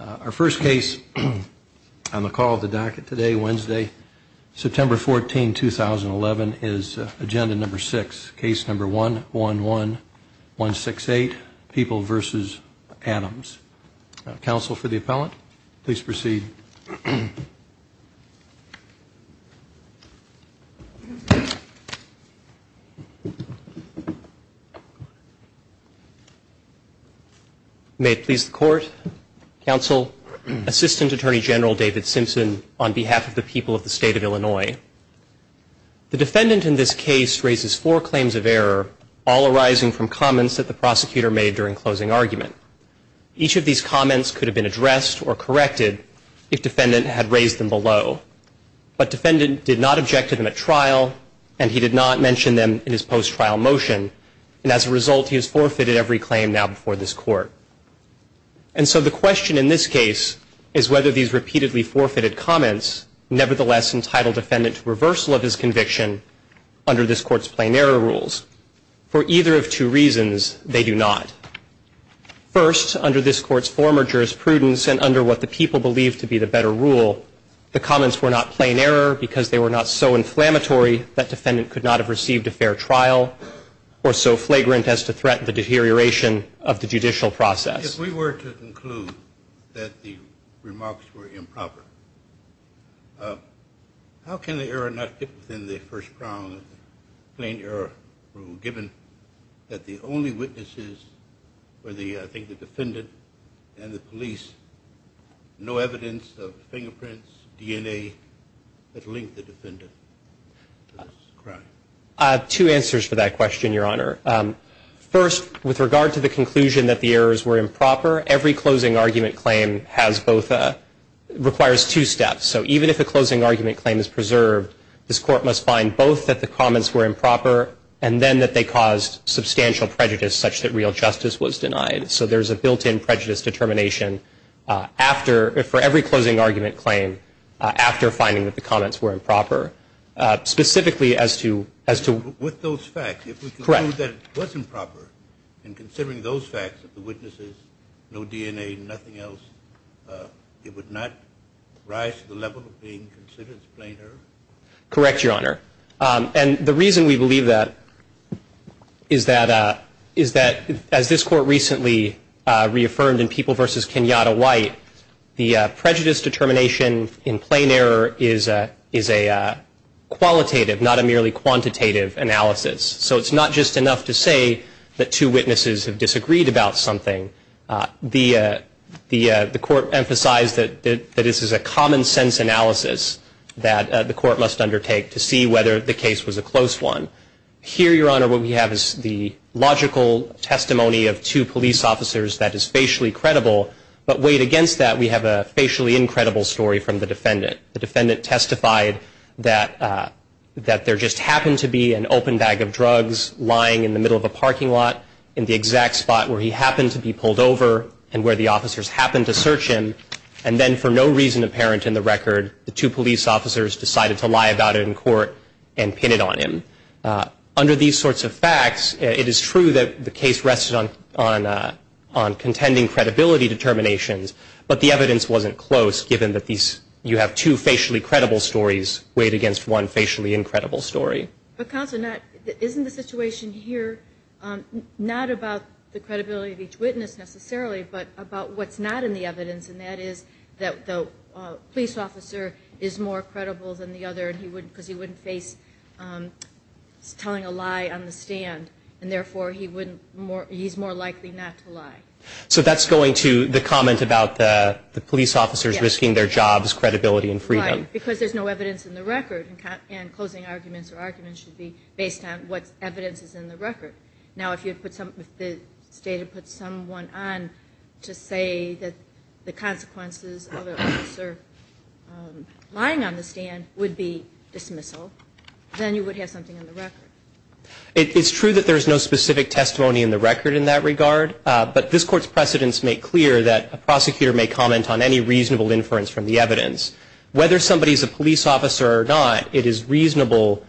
Our first case on the call of the docket today, Wednesday, September 14, 2011, is agenda number six, case number 111168, People v. Adams. Counsel for the appellant, please proceed. May it please the court. Counsel, Assistant Attorney General David Simpson, on behalf of the people of the state of Illinois. The defendant in this case raises four claims of error, all arising from comments that the prosecutor made during closing argument. Each of these comments could have been addressed or corrected if defendant had raised them below. But defendant did not object to them at trial, and he did not mention them in his post-trial motion. And as a result, he has forfeited every claim now before this court. And so the question in this case is whether these repeatedly forfeited comments nevertheless entitle defendant to reversal of his conviction under this court's plain error rules. For either of two reasons, they do not. First, under this court's former jurisprudence and under what the people believe to be the better rule, the comments were not plain error because they were not so inflammatory that defendant could not have received a fair trial or so flagrant as to threat the deterioration of the judicial process. If we were to conclude that the remarks were improper, how can the error not fit within the first prong of the plain error rule, given that the only witnesses were the, I think, the defendant and the police? No evidence of fingerprints, DNA that linked the defendant to this crime? Two answers for that question, Your Honor. First, with regard to the conclusion that the errors were improper, every closing argument claim has both, requires two steps. So even if a closing argument claim is preserved, this court must find both that the comments were improper and then that they caused substantial prejudice such that real justice was denied. So there's a built-in prejudice determination after, for every closing argument claim, after finding that the comments were improper, specifically as to, as to. With those facts, if we conclude that it wasn't proper in considering those facts of the witnesses, no DNA, nothing else, it would not rise to the level of being considered as plain error? Correct, Your Honor. And the reason we believe that is that, is that as this court recently reaffirmed in People v. Kenyatta White, the prejudice determination in plain error is a, is a qualitative, not a merely quantitative analysis. So it's not just enough to say that two witnesses have disagreed about something. The, the court emphasized that this is a common sense analysis that the court must undertake to see whether the case was a close one. Here, Your Honor, what we have is the logical testimony of two police officers that is facially credible, but weighed against that, we have a facially incredible story from the defendant. The defendant testified that, that there just happened to be an open bag of drugs lying in the middle of a parking lot, in the exact spot where he happened to be pulled over and where the officers happened to search him, and then for no reason apparent in the record, the two police officers decided to lie about it in court and pin it on him. Under these sorts of facts, it is true that the case rested on, on contending credibility determinations, but the evidence wasn't close given that these, you have two facially credible stories weighed against one facially incredible story. But Counselor, isn't the situation here not about the credibility of each witness necessarily, but about what's not in the evidence, and that is that the police officer is more credible than the other because he wouldn't face telling a lie on the stand, and therefore, he's more likely not to lie. So that's going to the comment about the police officers risking their jobs, credibility, and freedom. Right, because there's no evidence in the record, and closing arguments or arguments should be based on what evidence is in the record. Now, if the State had put someone on to say that the consequences of an officer lying on the stand would be dismissal, then you would have something in the record. It's true that there's no specific testimony in the record in that regard, but this Court's precedents make clear that a prosecutor may comment on any reasonable inference from the evidence. Whether somebody's a police officer or not, it is reasonable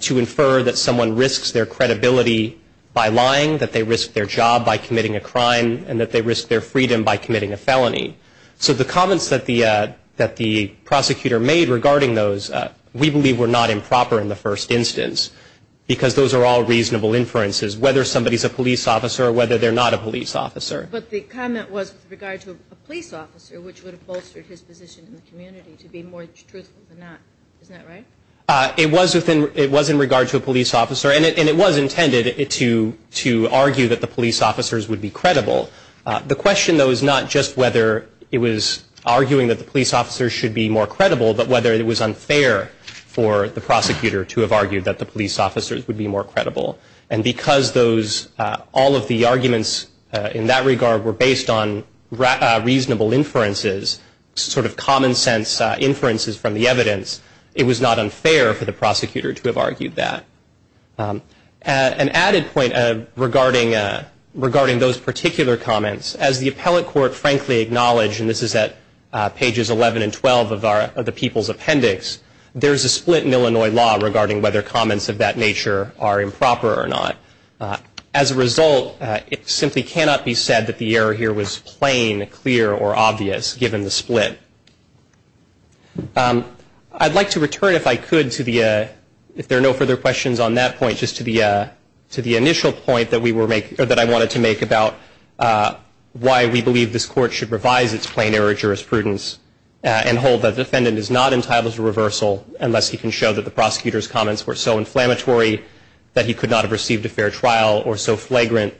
to infer that someone risks their credibility by lying, that they risk their job by committing a crime, and that they risk their freedom by committing a felony. So the comments that the prosecutor made regarding those we believe were not improper in the first instance because those are all reasonable inferences, whether somebody's a police officer or whether they're not a police officer. But the comment was with regard to a police officer, which would have bolstered his position in the community to be more truthful than not. Isn't that right? It was in regard to a police officer, and it was intended to argue that the police officers would be credible. The question, though, is not just whether it was arguing that the police officers should be more credible, but whether it was unfair for the prosecutor to have argued that the police officers would be more credible. And because all of the arguments in that regard were based on reasonable inferences, sort of common sense inferences from the evidence, it was not unfair for the prosecutor to have argued that. An added point regarding those particular comments, as the appellate court frankly acknowledged, and this is at pages 11 and 12 of the People's Appendix, there's a split in Illinois law regarding whether comments of that nature are improper or not. As a result, it simply cannot be said that the error here was plain, clear, or obvious, given the split. I'd like to return, if I could, if there are no further questions on that point, just to the initial point that I wanted to make about why we believe this court should revise its plain error jurisprudence and hold that the defendant is not entitled to reversal unless he can show that the prosecutor's comments were so inflammatory that he could not have received a fair trial or so flagrant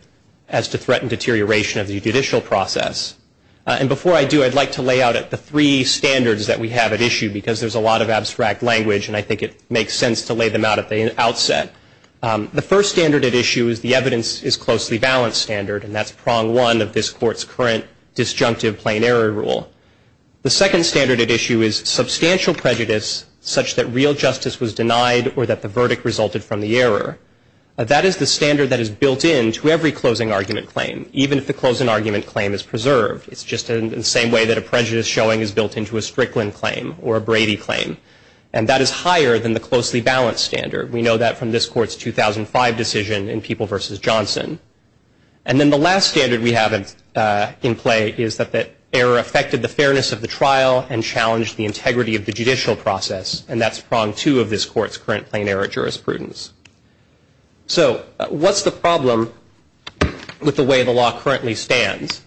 as to threaten deterioration of the judicial process. And before I do, I'd like to lay out the three standards that we have at issue, because there's a lot of abstract language and I think it makes sense to lay them out at the outset. The first standard at issue is the evidence is closely balanced standard, and that's prong one of this court's current disjunctive plain error rule. The second standard at issue is substantial prejudice such that real justice was denied or that the verdict resulted from the error. That is the standard that is built into every closing argument claim, even if the closing argument claim is preserved. It's just in the same way that a prejudice showing is built into a Strickland claim or a Brady claim, and that is higher than the closely balanced standard. We know that from this court's 2005 decision in People v. Johnson. And then the last standard we have in play is that the error affected the fairness of the trial and challenged the integrity of the judicial process, and that's prong two of this court's current plain error jurisprudence. So what's the problem with the way the law currently stands?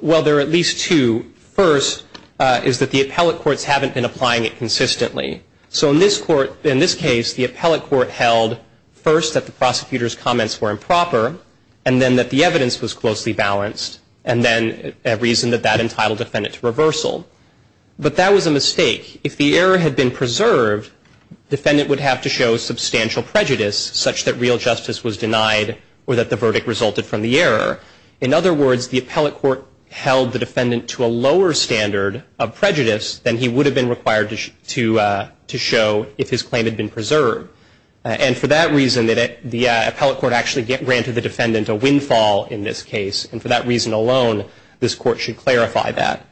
Well, there are at least two. First is that the appellate courts haven't been applying it consistently. So in this case, the appellate court held first that the prosecutor's comments were improper and then that the evidence was closely balanced, and then reasoned that that entitled the defendant to reversal. But that was a mistake. If the error had been preserved, the defendant would have to show substantial prejudice, such that real justice was denied or that the verdict resulted from the error. In other words, the appellate court held the defendant to a lower standard of prejudice than he would have been required to show if his claim had been preserved. And for that reason, the appellate court actually granted the defendant a windfall in this case, and for that reason alone, this court should clarify that.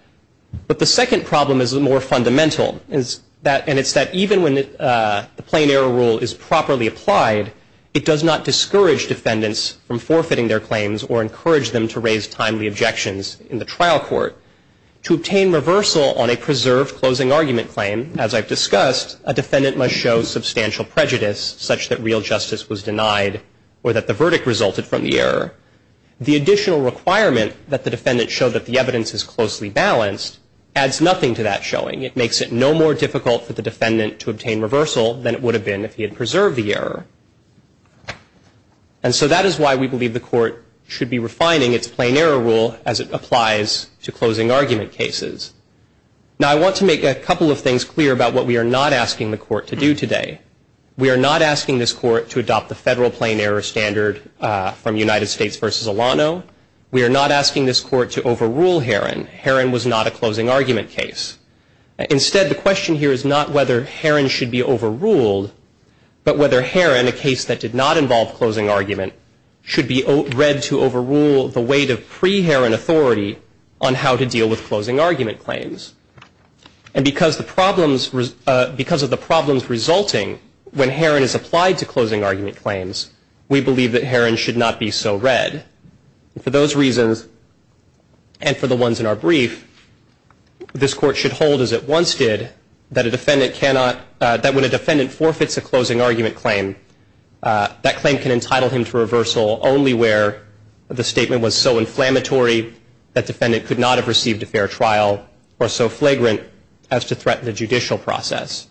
But the second problem is more fundamental, and it's that even when the plain error rule is properly applied, it does not discourage defendants from forfeiting their claims or encourage them to raise timely objections in the trial court. To obtain reversal on a preserved closing argument claim, as I've discussed, a defendant must show substantial prejudice, such that real justice was denied or that the verdict resulted from the error. The additional requirement that the defendant show that the evidence is closely balanced adds nothing to that showing. It makes it no more difficult for the defendant to obtain reversal than it would have been if he had preserved the error. And so that is why we believe the court should be refining its plain error rule as it applies to closing argument cases. Now, I want to make a couple of things clear about what we are not asking the court to do today. We are not asking this court to adopt the federal plain error standard from United States v. Alano. We are not asking this court to overrule Herron. Herron was not a closing argument case. Instead, the question here is not whether Herron should be overruled, but whether Herron, a case that did not involve closing argument, should be read to overrule the weight of pre-Herron authority on how to deal with closing argument claims. And because of the problems resulting when Herron is applied to closing argument claims, we believe that Herron should not be so read. For those reasons, and for the ones in our brief, this court should hold as it once did that when a defendant forfeits a closing argument claim, that claim can entitle him to reversal only where the statement was so inflammatory that defendant could not have received a fair trial or so flagrant as to threaten the judicial process.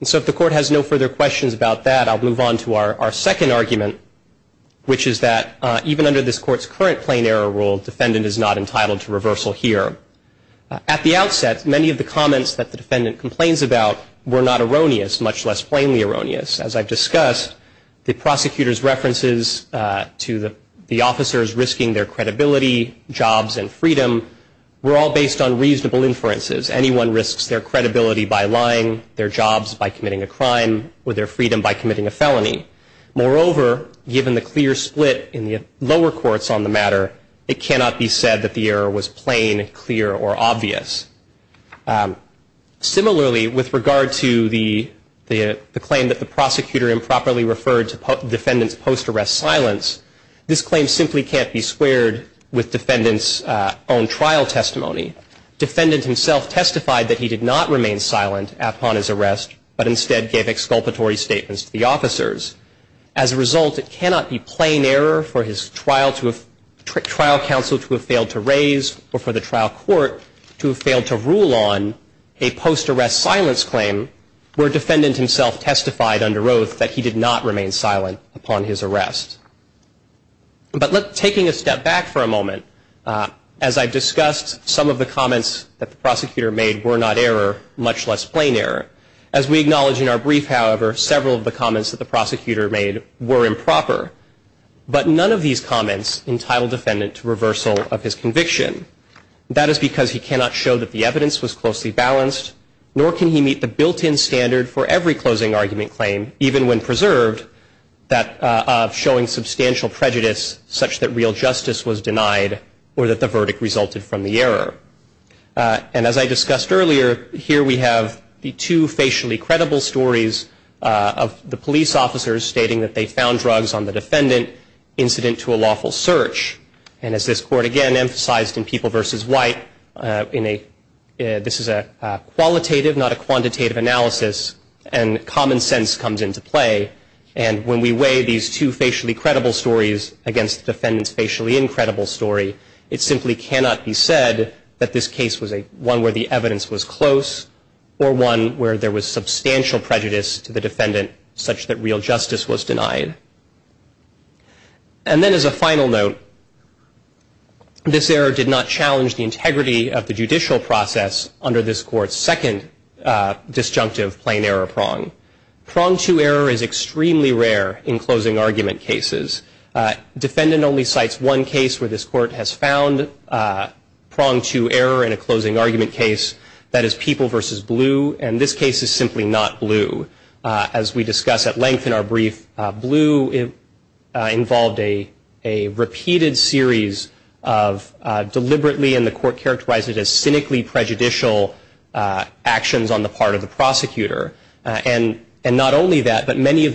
And so if the court has no further questions about that, I'll move on to our second argument, which is that even under this court's current plain error rule, defendant is not entitled to reversal here. At the outset, many of the comments that the defendant complains about were not erroneous, much less plainly erroneous. As I've discussed, the prosecutor's references to the officers risking their credibility, jobs, and freedom were all based on reasonable inferences. Anyone risks their credibility by lying, their jobs by committing a crime, or their freedom by committing a felony. Moreover, given the clear split in the lower courts on the matter, it cannot be said that the error was plain, clear, or obvious. Similarly, with regard to the claim that the prosecutor improperly referred to defendant's post-arrest silence, this claim simply can't be squared with defendant's own trial testimony. Defendant himself testified that he did not remain silent upon his arrest, but instead gave exculpatory statements to the officers. As a result, it cannot be plain error for his trial counsel to have failed to raise or for the trial court to have failed to rule on a post-arrest silence claim where defendant himself testified under oath that he did not remain silent upon his arrest. But taking a step back for a moment, as I've discussed, some of the comments that the prosecutor made were not error, much less plain error. As we acknowledge in our brief, however, several of the comments that the prosecutor made were improper, but none of these comments entitled defendant to reversal of his conviction. That is because he cannot show that the evidence was closely balanced, nor can he meet the built-in standard for every closing argument claim, even when preserved, of showing substantial prejudice such that real justice was denied or that the verdict resulted from the error. And as I discussed earlier, here we have the two facially credible stories of the police officers stating that they found drugs on the defendant, incident to a lawful search. And as this Court, again, emphasized in People v. White, this is a qualitative, not a quantitative analysis, and common sense comes into play. And when we weigh these two facially credible stories against the defendant's facially incredible story, it simply cannot be said that this case was one where the evidence was close or one where there was substantial prejudice to the defendant such that real justice was denied. And then as a final note, this error did not challenge the integrity of the judicial process under this Court's second disjunctive plain error prong. Prong two error is extremely rare in closing argument cases. Defendant only cites one case where this Court has found prong two error in a closing argument case. That is People v. Blue, and this case is simply not Blue. As we discuss at length in our brief, Blue involved a repeated series of deliberately, and the Court characterized it as cynically prejudicial actions on the part of the prosecutor. And not only that, but many of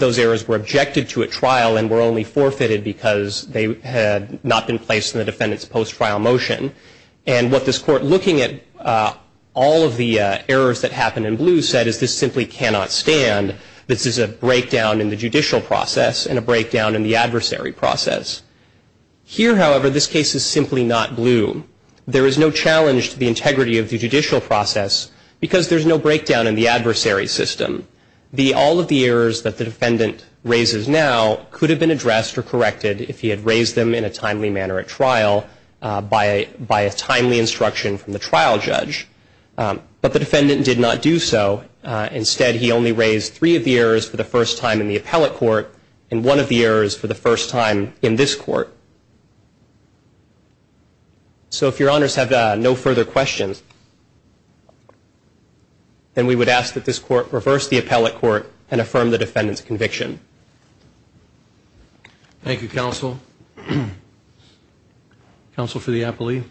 those errors were objected to at trial and were only forfeited because they had not been placed in the defendant's post-trial motion. And what this Court, looking at all of the errors that happened in Blue, said is this simply cannot stand. This is a breakdown in the judicial process and a breakdown in the adversary process. Here, however, this case is simply not Blue. There is no challenge to the integrity of the judicial process because there is no breakdown in the adversary system. All of the errors that the defendant raises now could have been addressed or corrected if he had raised them in a timely manner at trial by a timely instruction from the trial judge. But the defendant did not do so. Instead, he only raised three of the errors for the first time in the appellate court and one of the errors for the first time in this Court. So if Your Honors have no further questions, then we would ask that this Court reverse the appellate court and affirm the defendant's conviction. Thank you, Counsel. Counsel for the appellee.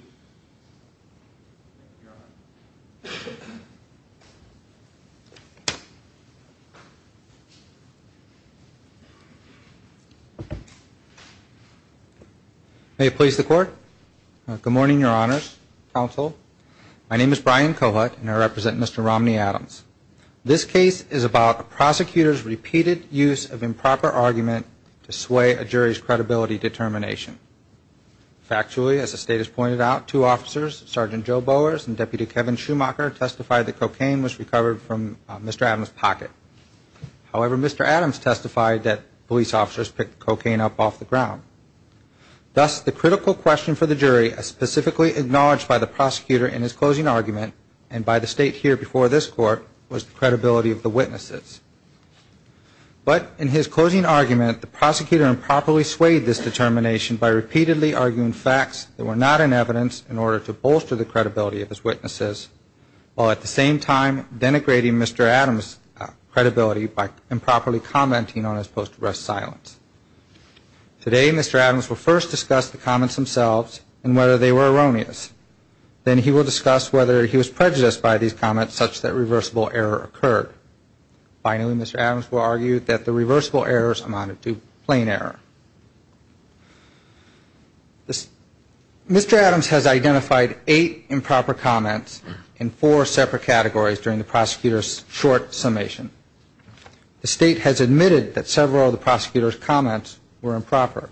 May it please the Court. Good morning, Your Honors, Counsel. My name is Brian Cohut and I represent Mr. Romney-Adams. This case is about a prosecutor's repeated use of improper argument to sway a jury's credibility determination. Factually, as the State has pointed out, two officers, Sergeant Joe Bowers and Deputy Kevin Schumacher, testified that cocaine was recovered from Mr. Adams' pocket. However, Mr. Adams testified that police officers picked cocaine up off the ground. Thus, the critical question for the jury, as specifically acknowledged by the prosecutor in his closing argument and by the State here before this Court, was the credibility of the witnesses. But in his closing argument, the prosecutor improperly swayed this determination by repeatedly arguing facts that were not in evidence in order to bolster the credibility of his witnesses, while at the same time denigrating Mr. Adams' credibility by improperly commenting on his post-arrest silence. Today, Mr. Adams will first discuss the comments themselves and whether they were erroneous. Then he will discuss whether he was prejudiced by these comments such that reversible error occurred. Finally, Mr. Adams will argue that the reversible errors amounted to plain error. Mr. Adams has identified eight improper comments in four separate categories during the prosecutor's short summation. The State has admitted that several of the prosecutor's comments were improper.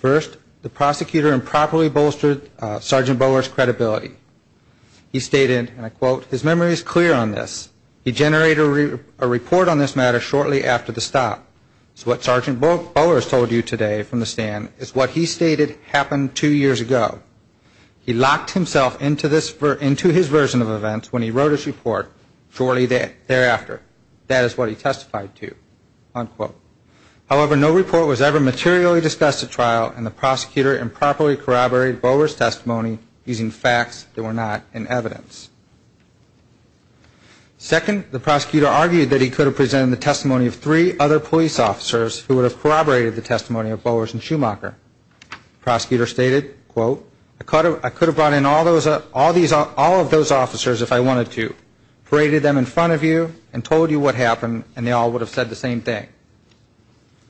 First, the prosecutor improperly bolstered Sergeant Bowers' credibility. He stated, and I quote, his memory is clear on this. He generated a report on this matter shortly after the stop. So what Sergeant Bowers told you today from the stand is what he stated happened two years ago. He locked himself into his version of events when he wrote his report shortly thereafter. That is what he testified to, unquote. However, no report was ever materially discussed at trial, and the prosecutor improperly corroborated Bowers' testimony using facts that were not in evidence. Second, the prosecutor argued that he could have presented the testimony of three other police officers who would have corroborated the testimony of Bowers and Schumacher. The prosecutor stated, quote, I could have brought in all of those officers if I wanted to, paraded them in front of you, and told you what happened, and they all would have said the same thing.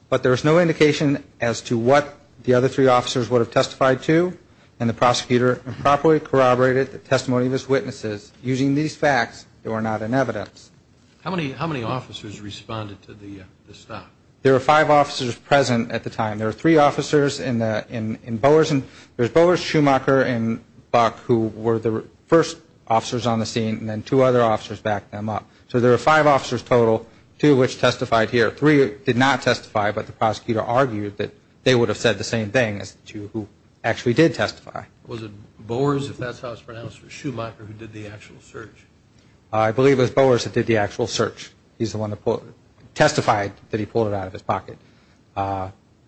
But there is no indication as to what the other three officers would have testified to, and the prosecutor improperly corroborated the testimony of his witnesses using these facts that were not in evidence. How many officers responded to the stop? There were five officers present at the time. There were three officers in Bowers, and there's Bowers, Schumacher, and Buck who were the first officers on the scene, and then two other officers backed them up. So there were five officers total, two of which testified here. Three did not testify, but the prosecutor argued that they would have said the same thing as the two who actually did testify. Was it Bowers, if that's how it's pronounced, or Schumacher who did the actual search? I believe it was Bowers that did the actual search. He's the one that testified that he pulled it out of his pocket.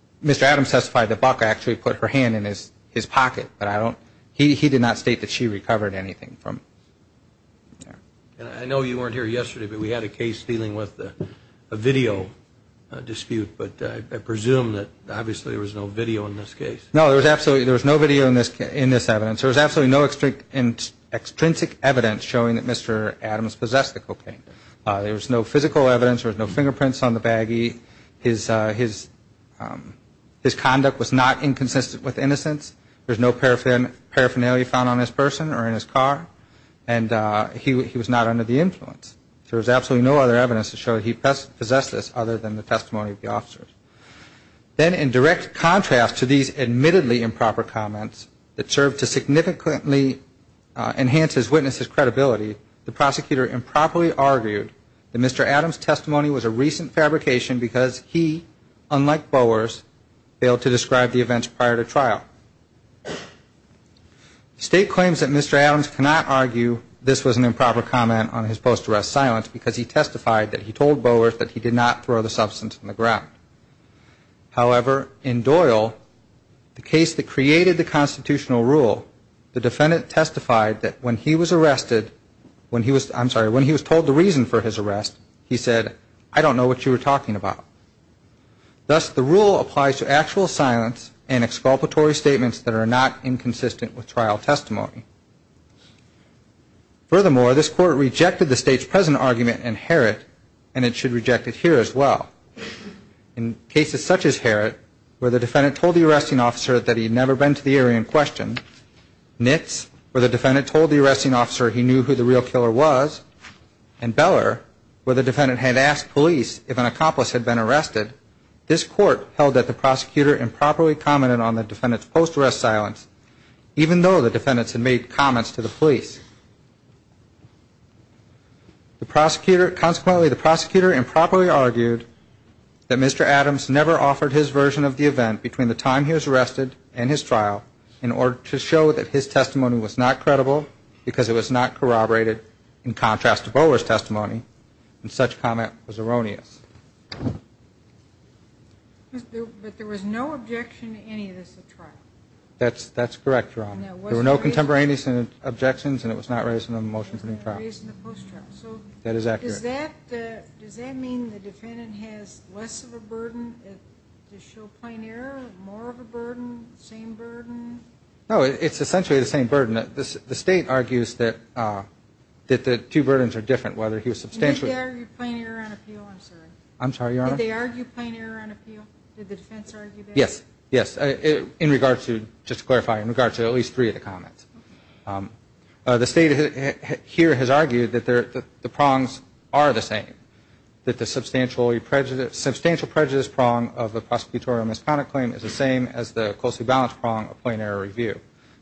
Mr. Adams testified that Buck actually put her hand in his pocket, but he did not state that she recovered anything from there. I know you weren't here yesterday, but we had a case dealing with a video dispute, but I presume that obviously there was no video in this case. No, there was absolutely no video in this evidence. There was absolutely no extrinsic evidence showing that Mr. Adams possessed the cocaine. There was no physical evidence. There was no fingerprints on the baggie. His conduct was not inconsistent with innocence. There was no paraphernalia found on this person or in his car, and he was not under the influence. There was absolutely no other evidence to show that he possessed this other than the testimony of the officers. Then in direct contrast to these admittedly improper comments that served to significantly enhance his witness's credibility, the prosecutor improperly argued that Mr. Adams' testimony was a recent fabrication because he, unlike Bowers, failed to describe the events prior to trial. The State claims that Mr. Adams cannot argue this was an improper comment on his post-arrest silence because he testified that he told Bowers that he did not throw the substance on the ground. However, in Doyle, the case that created the constitutional rule, the defendant testified that when he was arrested, when he was, I'm sorry, when he was told the reason for his arrest, he said, I don't know what you were talking about. Thus, the rule applies to actual silence and exculpatory statements that are not inconsistent with trial testimony. Furthermore, this Court rejected the State's present argument in Herrott, and it should reject it here as well. In cases such as Herrott, where the defendant told the arresting officer that he had never been to the area in question, Nitz, where the defendant told the arresting officer he knew who the real killer was, and Beller, where the defendant had asked police if an accomplice had been arrested, this Court held that the prosecutor improperly commented on the defendant's post-arrest silence, even though the defendants had made comments to the police. Consequently, the prosecutor improperly argued that Mr. Adams never offered his version of the event between the time he was arrested and his trial in order to show that his testimony was not credible because it was not corroborated in contrast to Bowler's testimony, and such comment was erroneous. But there was no objection to any of this at trial. That's correct, Your Honor. There were no contemporaneous objections, and it was not raised in the motion for new trial. It was not raised in the post-trial. That is accurate. Does that mean the defendant has less of a burden to show plain error, more of a burden, same burden? No. It's essentially the same burden. The State argues that the two burdens are different, whether he was substantially. Did they argue plain error on appeal? I'm sorry. I'm sorry, Your Honor. Did they argue plain error on appeal? Did the defense argue that? Yes. Yes. In regard to, just to clarify, in regard to at least three of the comments. The State here has argued that the prongs are the same. That the substantial prejudice prong of the prosecutorial misconduct claim is the same as the closely balanced prong of plain error review.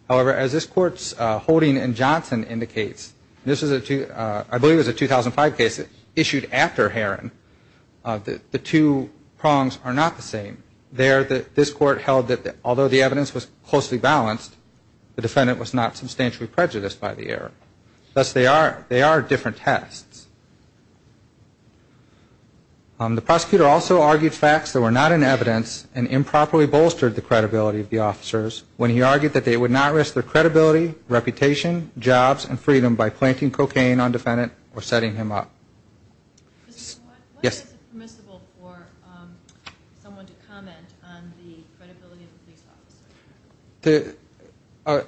However, as this Court's holding in Johnson indicates, and I believe this is a 2005 case issued after Herron, the two prongs are not the same. There, this Court held that although the evidence was closely balanced, the defendant was not substantially prejudiced by the error. Thus, they are different tests. The prosecutor also argued facts that were not in evidence and improperly bolstered the credibility of the officers when he argued that they would not risk their credibility, reputation, jobs, and freedom by planting cocaine on the defendant or setting him up. Yes. Why is it permissible for someone to comment on the credibility of a police officer?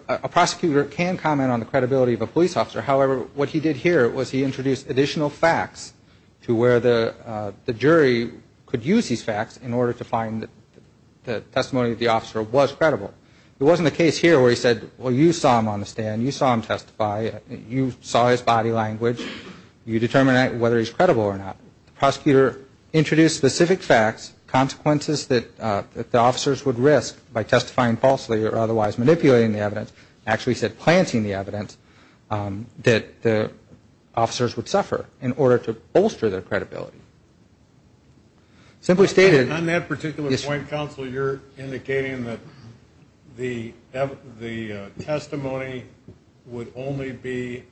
A prosecutor can comment on the credibility of a police officer. However, what he did here was he introduced additional facts to where the jury could use these facts in order to find that the testimony of the officer was credible. It wasn't the case here where he said, well, you saw him on the stand. You saw him testify. You saw his body language. You determine whether he's credible or not. The prosecutor introduced specific facts, consequences that the officers would risk by testifying falsely or otherwise manipulating the evidence. Actually, he said planting the evidence that the officers would suffer in order to bolster their credibility. Simply stated. On that particular point, Counsel, you're indicating that the testimony would only be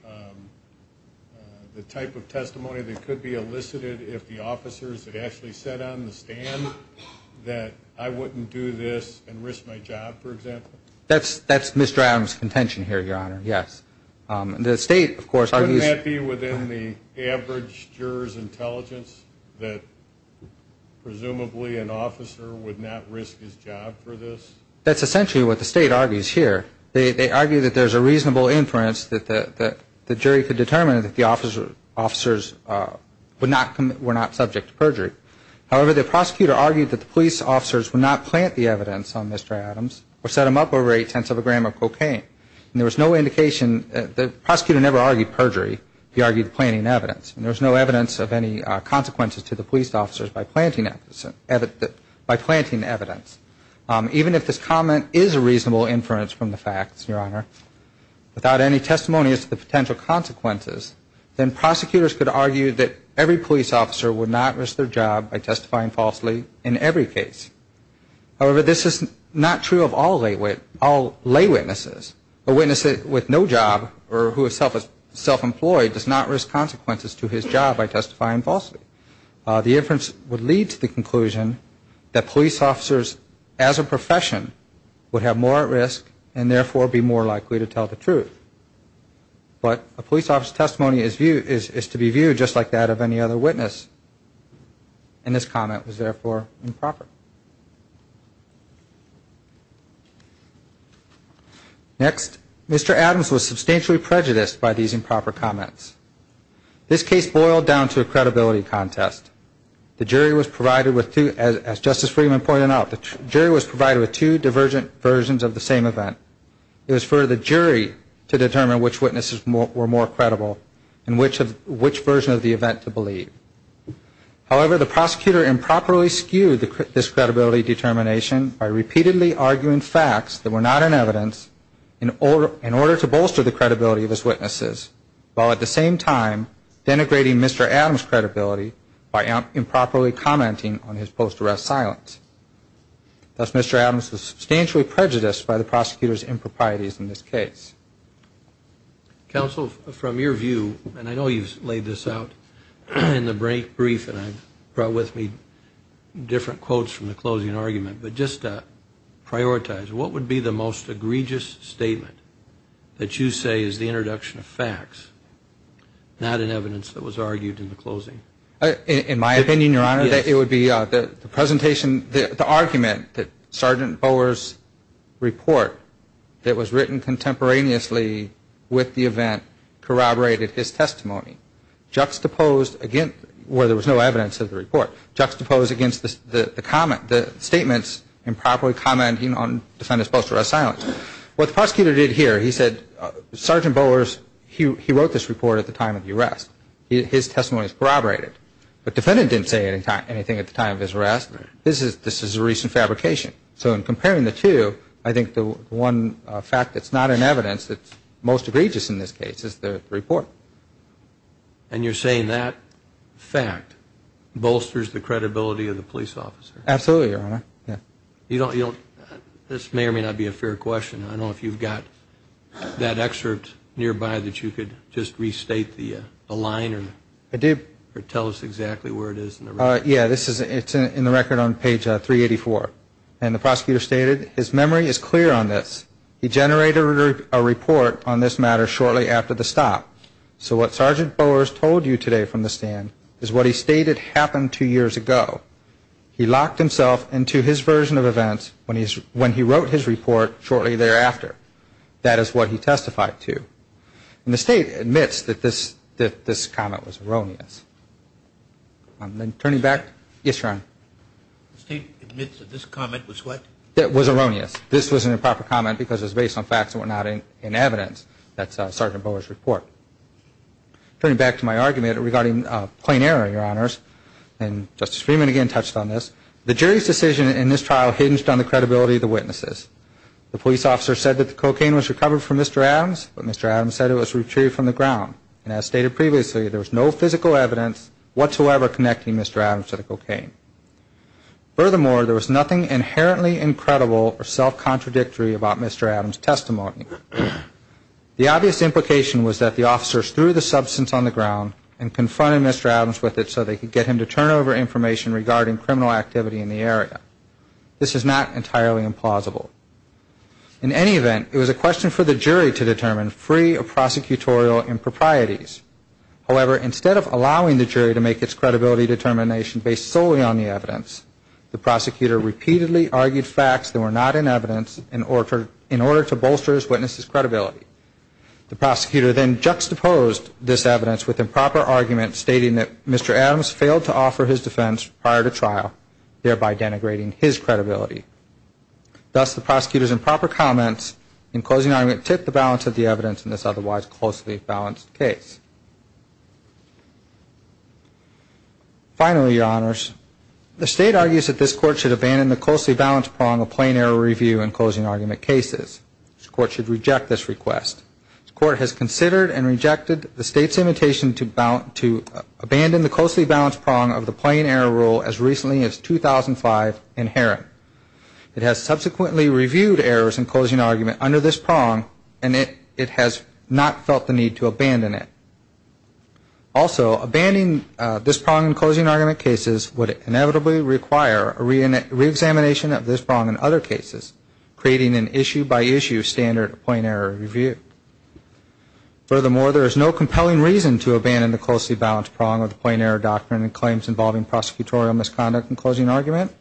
the type of testimony that could be elicited if the officers had actually said on the stand that I wouldn't do this and risk my job, for example? That's Mr. Adams' contention here, Your Honor, yes. The state, of course, argues. Couldn't that be within the average juror's intelligence that presumably an officer would not risk his job for this? That's essentially what the state argues here. They argue that there's a reasonable inference that the jury could determine that the officers were not subject to perjury. However, the prosecutor argued that the police officers would not plant the evidence on Mr. Adams or set him up over eight-tenths of a gram of cocaine. And there was no indication. The prosecutor never argued perjury. He argued planting evidence. And there was no evidence of any consequences to the police officers by planting evidence. Even if this comment is a reasonable inference from the facts, Your Honor, without any testimony as to the potential consequences, then prosecutors could argue that every police officer would not risk their job by testifying falsely in every case. However, this is not true of all lay witnesses. A witness with no job or who is self-employed does not risk consequences to his job by testifying falsely. The inference would lead to the conclusion that police officers as a profession would have more at risk and therefore be more likely to tell the truth. But a police officer's testimony is to be viewed just like that of any other witness. And this comment was therefore improper. Next, Mr. Adams was substantially prejudiced by these improper comments. This case boiled down to a credibility contest. The jury was provided with two, as Justice Friedman pointed out, the jury was provided with two divergent versions of the same event. It was for the jury to determine which witnesses were more credible and which version of the event to believe. However, the prosecutor improperly skewed this credibility determination by repeatedly arguing facts that were not in evidence in order to bolster the credibility of his witnesses, while at the same time denigrating Mr. Adams' credibility by improperly commenting on his post-arrest silence. Thus, Mr. Adams was substantially prejudiced by the prosecutor's improprieties in this case. Counsel, from your view, and I know you've laid this out in the brief and brought with me different quotes from the closing argument, but just to prioritize, what would be the most egregious statement that you say is the introduction of facts, In my opinion, Your Honor, it would be the argument that Sergeant Bowers' report that was written contemporaneously with the event corroborated his testimony, juxtaposed against, where there was no evidence of the report, juxtaposed against the statements improperly commenting on defendant's post-arrest silence. What the prosecutor did here, he said, Sergeant Bowers, he wrote this report at the time of the arrest. His testimony is corroborated. The defendant didn't say anything at the time of his arrest. This is a recent fabrication. So in comparing the two, I think the one fact that's not in evidence that's most egregious in this case is the report. And you're saying that fact bolsters the credibility of the police officer? Absolutely, Your Honor. This may or may not be a fair question. I don't know if you've got that excerpt nearby that you could just restate the line or tell us exactly where it is. Yeah, it's in the record on page 384. And the prosecutor stated, his memory is clear on this. He generated a report on this matter shortly after the stop. So what Sergeant Bowers told you today from the stand is what he stated happened two years ago. He locked himself into his version of events when he wrote his report shortly thereafter. That is what he testified to. And the State admits that this comment was erroneous. Yes, Your Honor. The State admits that this comment was what? That it was erroneous. This was an improper comment because it was based on facts that were not in evidence. That's Sergeant Bowers' report. Turning back to my argument regarding plain error, Your Honors, and Justice Freeman again touched on this, the jury's decision in this trial hinged on the credibility of the witnesses. The police officer said that the cocaine was recovered from Mr. Adams, but Mr. Adams said it was retrieved from the ground. And as stated previously, there was no physical evidence whatsoever connecting Mr. Adams to the cocaine. Furthermore, there was nothing inherently incredible or self-contradictory about Mr. Adams' testimony. The obvious implication was that the officers threw the substance on the ground and confronted Mr. Adams with it so they could get him to turn over information regarding criminal activity in the area. This is not entirely implausible. In any event, it was a question for the jury to determine free of prosecutorial improprieties. However, instead of allowing the jury to make its credibility determination based solely on the evidence, the prosecutor repeatedly argued facts that were not in evidence in order to bolster his witness' credibility. The prosecutor then juxtaposed this evidence with improper arguments stating that Mr. Adams failed to offer his defense prior to trial, thereby denigrating his credibility. Thus, the prosecutor's improper comments in closing argument tipped the balance of the evidence in this otherwise closely balanced case. Finally, Your Honors, the State argues that this Court should abandon the closely balanced prong of plain error review in closing argument cases. This Court should reject this request. This Court has considered and rejected the State's invitation to abandon the closely balanced prong of the plain error rule as recently as 2005 inherent. It has subsequently reviewed errors in closing argument under this prong, and it has not felt the need to abandon it. Also, abandoning this prong in closing argument cases would inevitably require a reexamination of this prong in other cases, creating an issue-by-issue standard of plain error review. Furthermore, there is no compelling reason to abandon the closely balanced prong of the plain error doctrine and claims involving prosecutorial misconduct in closing argument.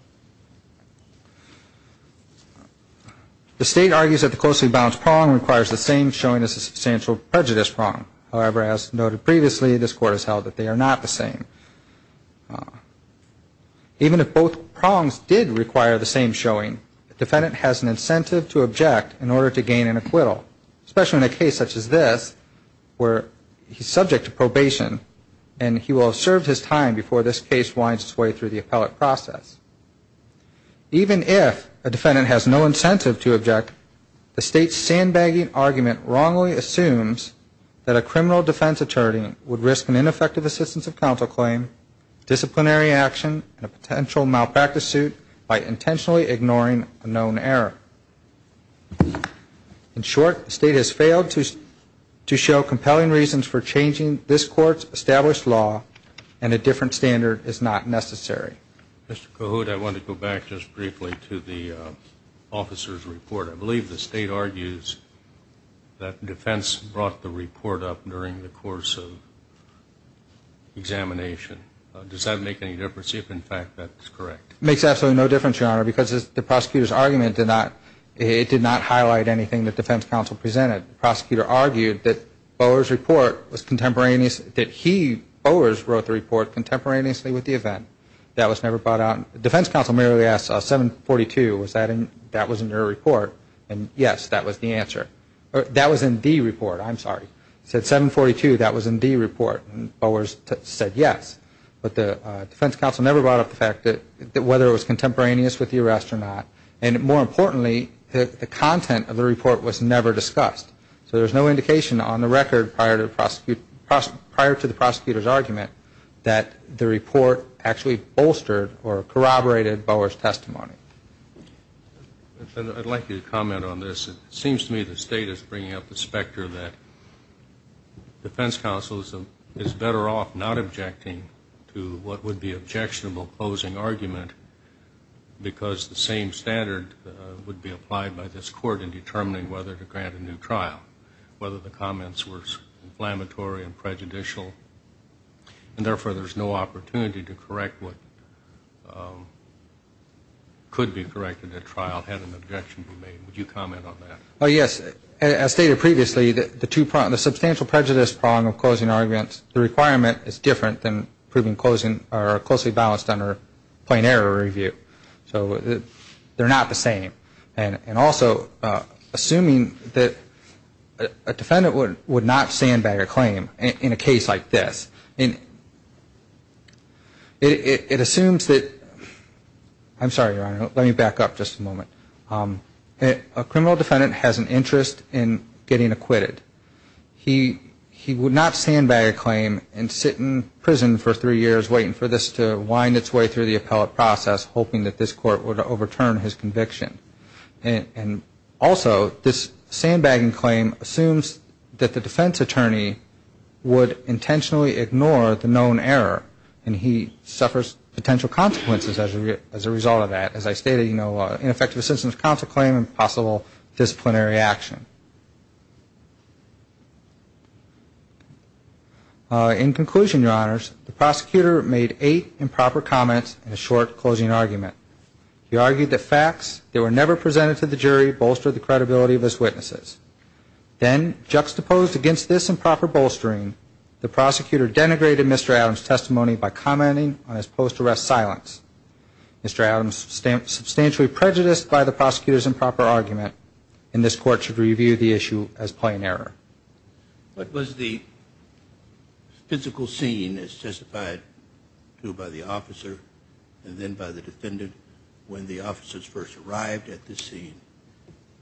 The State argues that the closely balanced prong requires the same showing as the substantial prejudice prong. However, as noted previously, this Court has held that they are not the same. Even if both prongs did require the same showing, the defendant has an incentive to object in order to gain an acquittal, especially in a case such as this where he's subject to probation, and he will have served his time before this case winds its way through the appellate process. Even if a defendant has no incentive to object, the State's sandbagging argument wrongly assumes that a criminal defense attorney would risk an ineffective assistance of counsel claim, disciplinary action, and a potential malpractice suit by intentionally ignoring a known error. In short, the State has failed to show compelling reasons for changing this Court's established law, and a different standard is not necessary. Mr. Cahoot, I want to go back just briefly to the officer's report. I believe the State argues that the defense brought the report up during the course of examination. Does that make any difference, if in fact that's correct? It makes absolutely no difference, Your Honor, because the prosecutor's argument did not highlight anything the defense counsel presented. The prosecutor argued that Bowers wrote the report contemporaneously with the event. The defense counsel merely asked, 742, that was in your report, and yes, that was the answer. That was in the report, I'm sorry. He said 742, that was in the report, and Bowers said yes, but the defense counsel never brought up the fact that whether it was contemporaneous with the arrest or not. And more importantly, the content of the report was never discussed. So there's no indication on the record prior to the prosecutor's argument that the report actually bolstered the content of the report. It never bolstered or corroborated Bowers' testimony. I'd like you to comment on this. It seems to me the State is bringing up the specter that defense counsel is better off not objecting to what would be objectionable closing argument, because the same standard would be applied by this Court in determining whether to grant a new trial, whether the comments were inflammatory and prejudicial, and therefore there's no opportunity to correct what could be corrected at trial had an objection been made. Would you comment on that? Oh, yes. As stated previously, the substantial prejudice prong of closing arguments, the requirement is different than proving closely balanced under plain error review. So they're not the same. And also, assuming that a defendant would not stand by a claim in a case like this, it assumes that, I'm sorry, Your Honor, let me back up just a moment. A criminal defendant has an interest in getting acquitted. He would not stand by a claim and sit in prison for three years waiting for this to wind its way through the appellate process, hoping that this Court would overturn his conviction. And also, this sandbagging claim assumes that the defense attorney would intentionally ignore the known error, and he suffers potential consequences as a result of that. As I stated, you know, ineffective assistance of counsel claim and possible disciplinary action. In conclusion, Your Honors, the prosecutor made eight improper comments in a short closing argument. He argued that facts that were never presented to the jury bolstered the credibility of his witnesses. Then, juxtaposed against this improper bolstering, the prosecutor denigrated Mr. Adams' testimony by commenting on his post-arrest silence. Mr. Adams, substantially prejudiced by the prosecutor's improper argument, in this Court should review his testimony. I view the issue as plain error. What was the physical scene, as testified to by the officer and then by the defendant, when the officers first arrived at this scene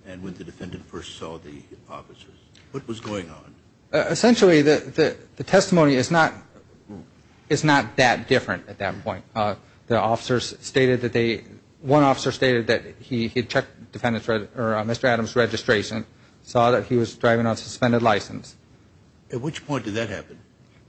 and when the defendant first saw the officers? What was going on? Essentially, the testimony is not that different at that point. The officers stated that they, one officer stated that he had checked Mr. Adams' registration, saw that he was driving on suspended license. At which point did that happen?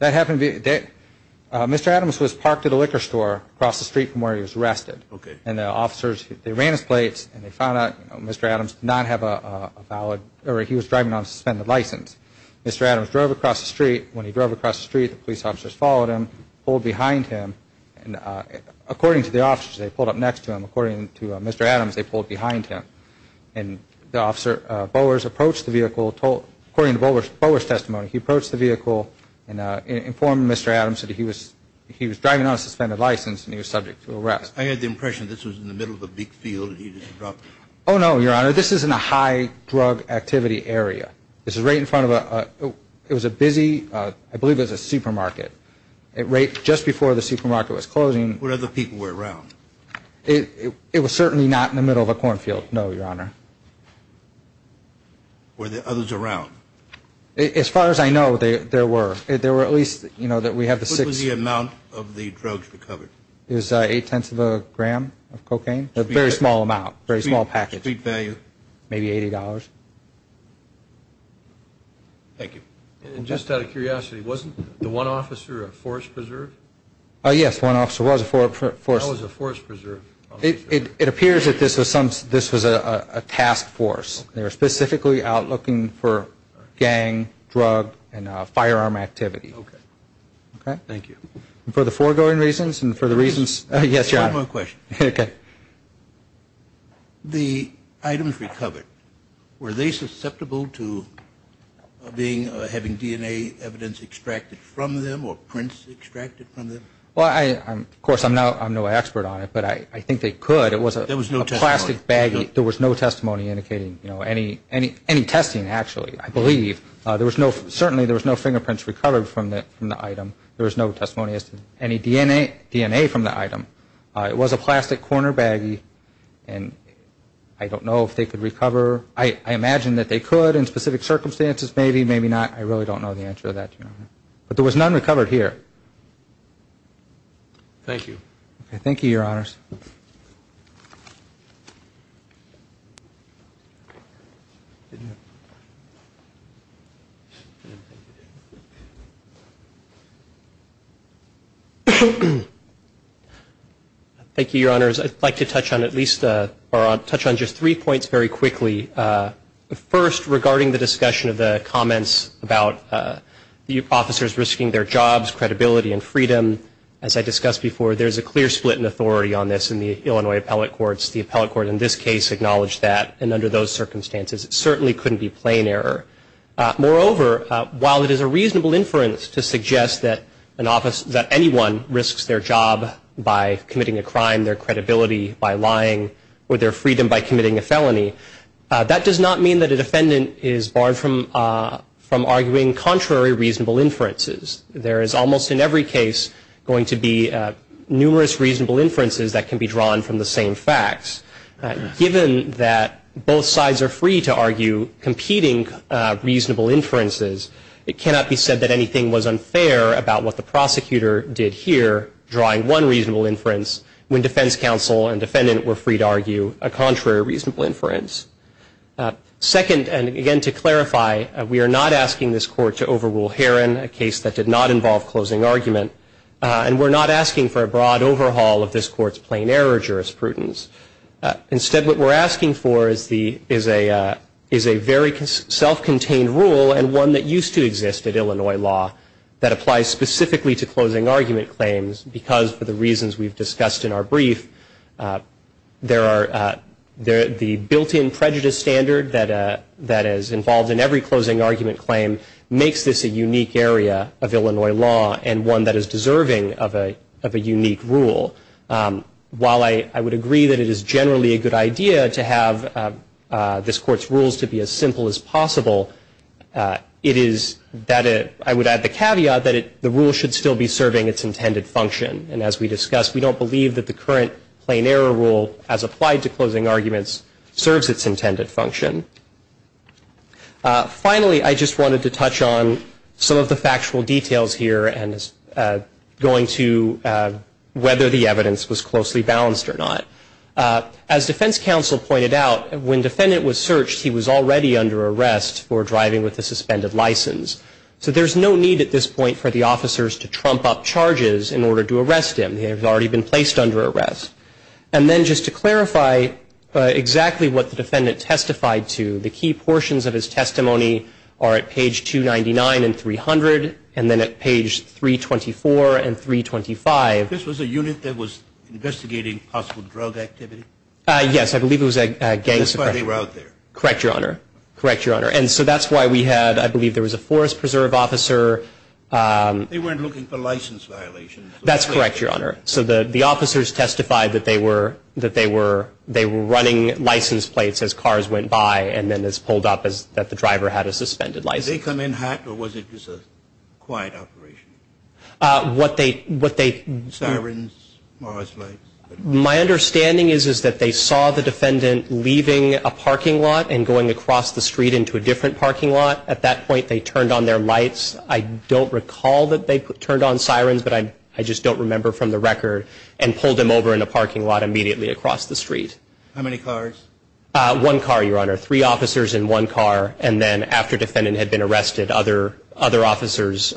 That happened, Mr. Adams was parked at a liquor store across the street from where he was arrested. Okay. And the officers, they ran his plates and they found out Mr. Adams did not have a valid, or he was driving on suspended license. Mr. Adams drove across the street. When he drove across the street, the police officers followed him, pulled behind him. According to the officers, they pulled up next to him. According to Mr. Adams, they pulled behind him. According to Bowers' testimony, he approached the vehicle and informed Mr. Adams that he was driving on a suspended license and he was subject to arrest. I had the impression this was in the middle of a big field. Oh no, Your Honor, this is in a high drug activity area. This is right in front of a, it was a busy, I believe it was a supermarket. Right just before the supermarket was closing. Were other people around? It was certainly not in the middle of a cornfield, no, Your Honor. Were there others around? As far as I know, there were. What was the amount of the drugs recovered? It was eight-tenths of a gram of cocaine. A very small amount, a very small package. Street value? Maybe $80. Thank you. Just out of curiosity, wasn't the one officer a Forest Preserve? Yes, one officer was a Forest Preserve. It appears that this was a task force. They were specifically out looking for gang, drug, and firearm activity. Okay. Okay? Thank you. For the foregoing reasons and for the reasons, yes, Your Honor. One more question. Okay. The items recovered, were they susceptible to being, having DNA evidence extracted from them or prints extracted from them? Well, of course, I'm no expert on it, but I think they could. There was no testimony? There was no plastic baggie. There was no testimony indicating any testing, actually, I believe. Certainly, there was no fingerprints recovered from the item. There was no testimony as to any DNA from the item. It was a plastic corner baggie, and I don't know if they could recover. I imagine that they could in specific circumstances, maybe, maybe not. I really don't know the answer to that, Your Honor. But there was none recovered here. Thank you. Okay. Thank you, Your Honors. Thank you, Your Honors. I'd like to touch on at least, or touch on just three points very quickly. First, regarding the discussion of the comments about the officers risking their jobs, credibility, and freedom, as I discussed before, there's a clear split in authority on this in the Illinois appellate courts. The appellate court in this case acknowledged that, and under those circumstances, it certainly couldn't be plain error. Moreover, while it is a reasonable inference to suggest that an office, that anyone risks their job by committing a crime, their credibility by lying, or their freedom by committing a felony, that does not mean that a defendant is barred from arguing contrary reasonable inferences. There is almost, in every case, going to be numerous reasonable inferences that can be drawn from the same facts. Given that both sides are free to argue competing reasonable inferences, it cannot be said that anything was unfair about what the prosecutor did here, drawing one reasonable inference, when defense counsel and defendant were free to argue a contrary reasonable inference. Second, and again to clarify, we are not asking this court to overrule Herron, a case that did not involve closing argument, and we're not asking for a broad overhaul of this court's plain error jurisprudence. Instead, what we're asking for is a very self-contained rule, and one that used to exist at Illinois law, that applies specifically to closing argument claims, because for the reasons we've discussed in our brief, the built-in prejudice standard that is involved in every closing argument claim makes this a unique area of Illinois law, and one that is deserving of a unique rule. While I would agree that it is generally a good idea to have this court's rules to be as simple as possible, I would add the caveat that the rule should still be serving its intended function. And as we discussed, we don't believe that the current plain error rule, as applied to closing arguments, serves its intended function. Finally, I just wanted to touch on some of the factual details here, and going to whether the evidence was closely balanced or not. As defense counsel pointed out, when defendant was searched, he was already under arrest for driving with a suspended license. So there's no need at this point for the officers to trump up charges in order to arrest him. He had already been placed under arrest. And then just to clarify exactly what the defendant testified to, the key portions of his testimony are at page 299 and 300, and then at page 324 and 325. This was a unit that was investigating possible drug activity? Yes. I believe it was a gangster. That's why they were out there. Correct, Your Honor. Correct, Your Honor. And so that's why we had, I believe there was a forest preserve officer. They weren't looking for license violations. That's correct, Your Honor. So the officers testified that they were running license plates as cars went by and then as pulled up, that the driver had a suspended license. Did they come in hot, or was it just a quiet operation? What they... Sirens, Morris lights. My understanding is that they saw the defendant leaving a parking lot and going across the street into a different parking lot. At that point, they turned on their lights. I don't recall that they turned on sirens, but I just don't remember from the record, and pulled him over in a parking lot immediately across the street. How many cars? One car, Your Honor. Three officers in one car, and then after the defendant had been arrested, other officers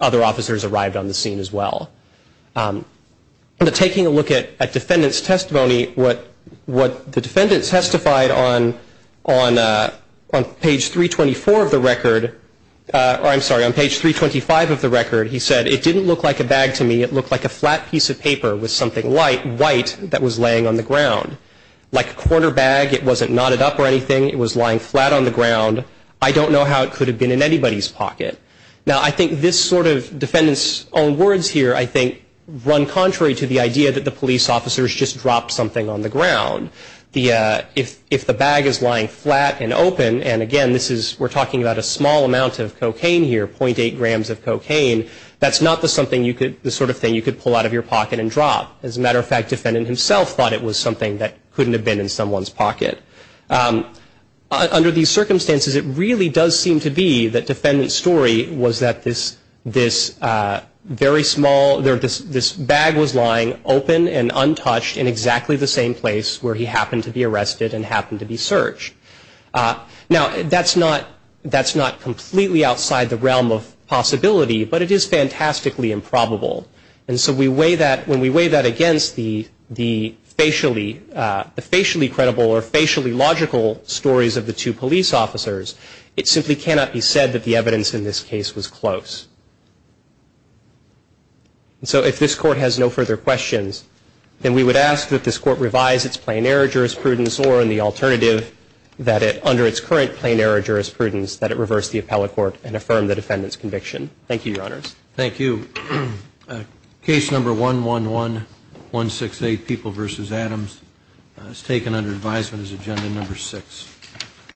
arrived on the scene as well. Taking a look at the defendant's testimony, what the defendant testified on page 324 of the record, or I'm sorry, on page 325 of the record, he said, it didn't look like a bag to me, it looked like a flat piece of paper with something white that was laying on the ground. Like a quarter bag, it wasn't knotted up or anything, it was lying flat on the ground. I don't know how it could have been in anybody's pocket. Now, I think this sort of defendant's own words here, I think, run contrary to the idea that the police officers just dropped something on the ground. If the bag is lying flat and open, and again, we're talking about a small amount of cocaine here, .8 grams of cocaine, that's not the sort of thing you could pull out of your pocket and drop. As a matter of fact, the defendant himself thought it was something that couldn't have been in someone's pocket. Under these circumstances, it really does seem to be that the defendant's story was that this very small, this bag was lying open and untouched in exactly the same place where he happened to be arrested and happened to be searched. Now, that's not completely outside the realm of possibility, but it is fantastically improbable. And so when we weigh that against the facially credible or facially logical stories of the two police officers, it simply cannot be said that the evidence in this case was close. And so if this Court has no further questions, then we would ask that this Court revise its plain error jurisprudence or in the alternative, that under its current plain error jurisprudence, that it reverse the appellate court and affirm the defendant's conviction. Thank you, Your Honors. Thank you. Case number 111168, People v. Adams, is taken under advisement as agenda number six.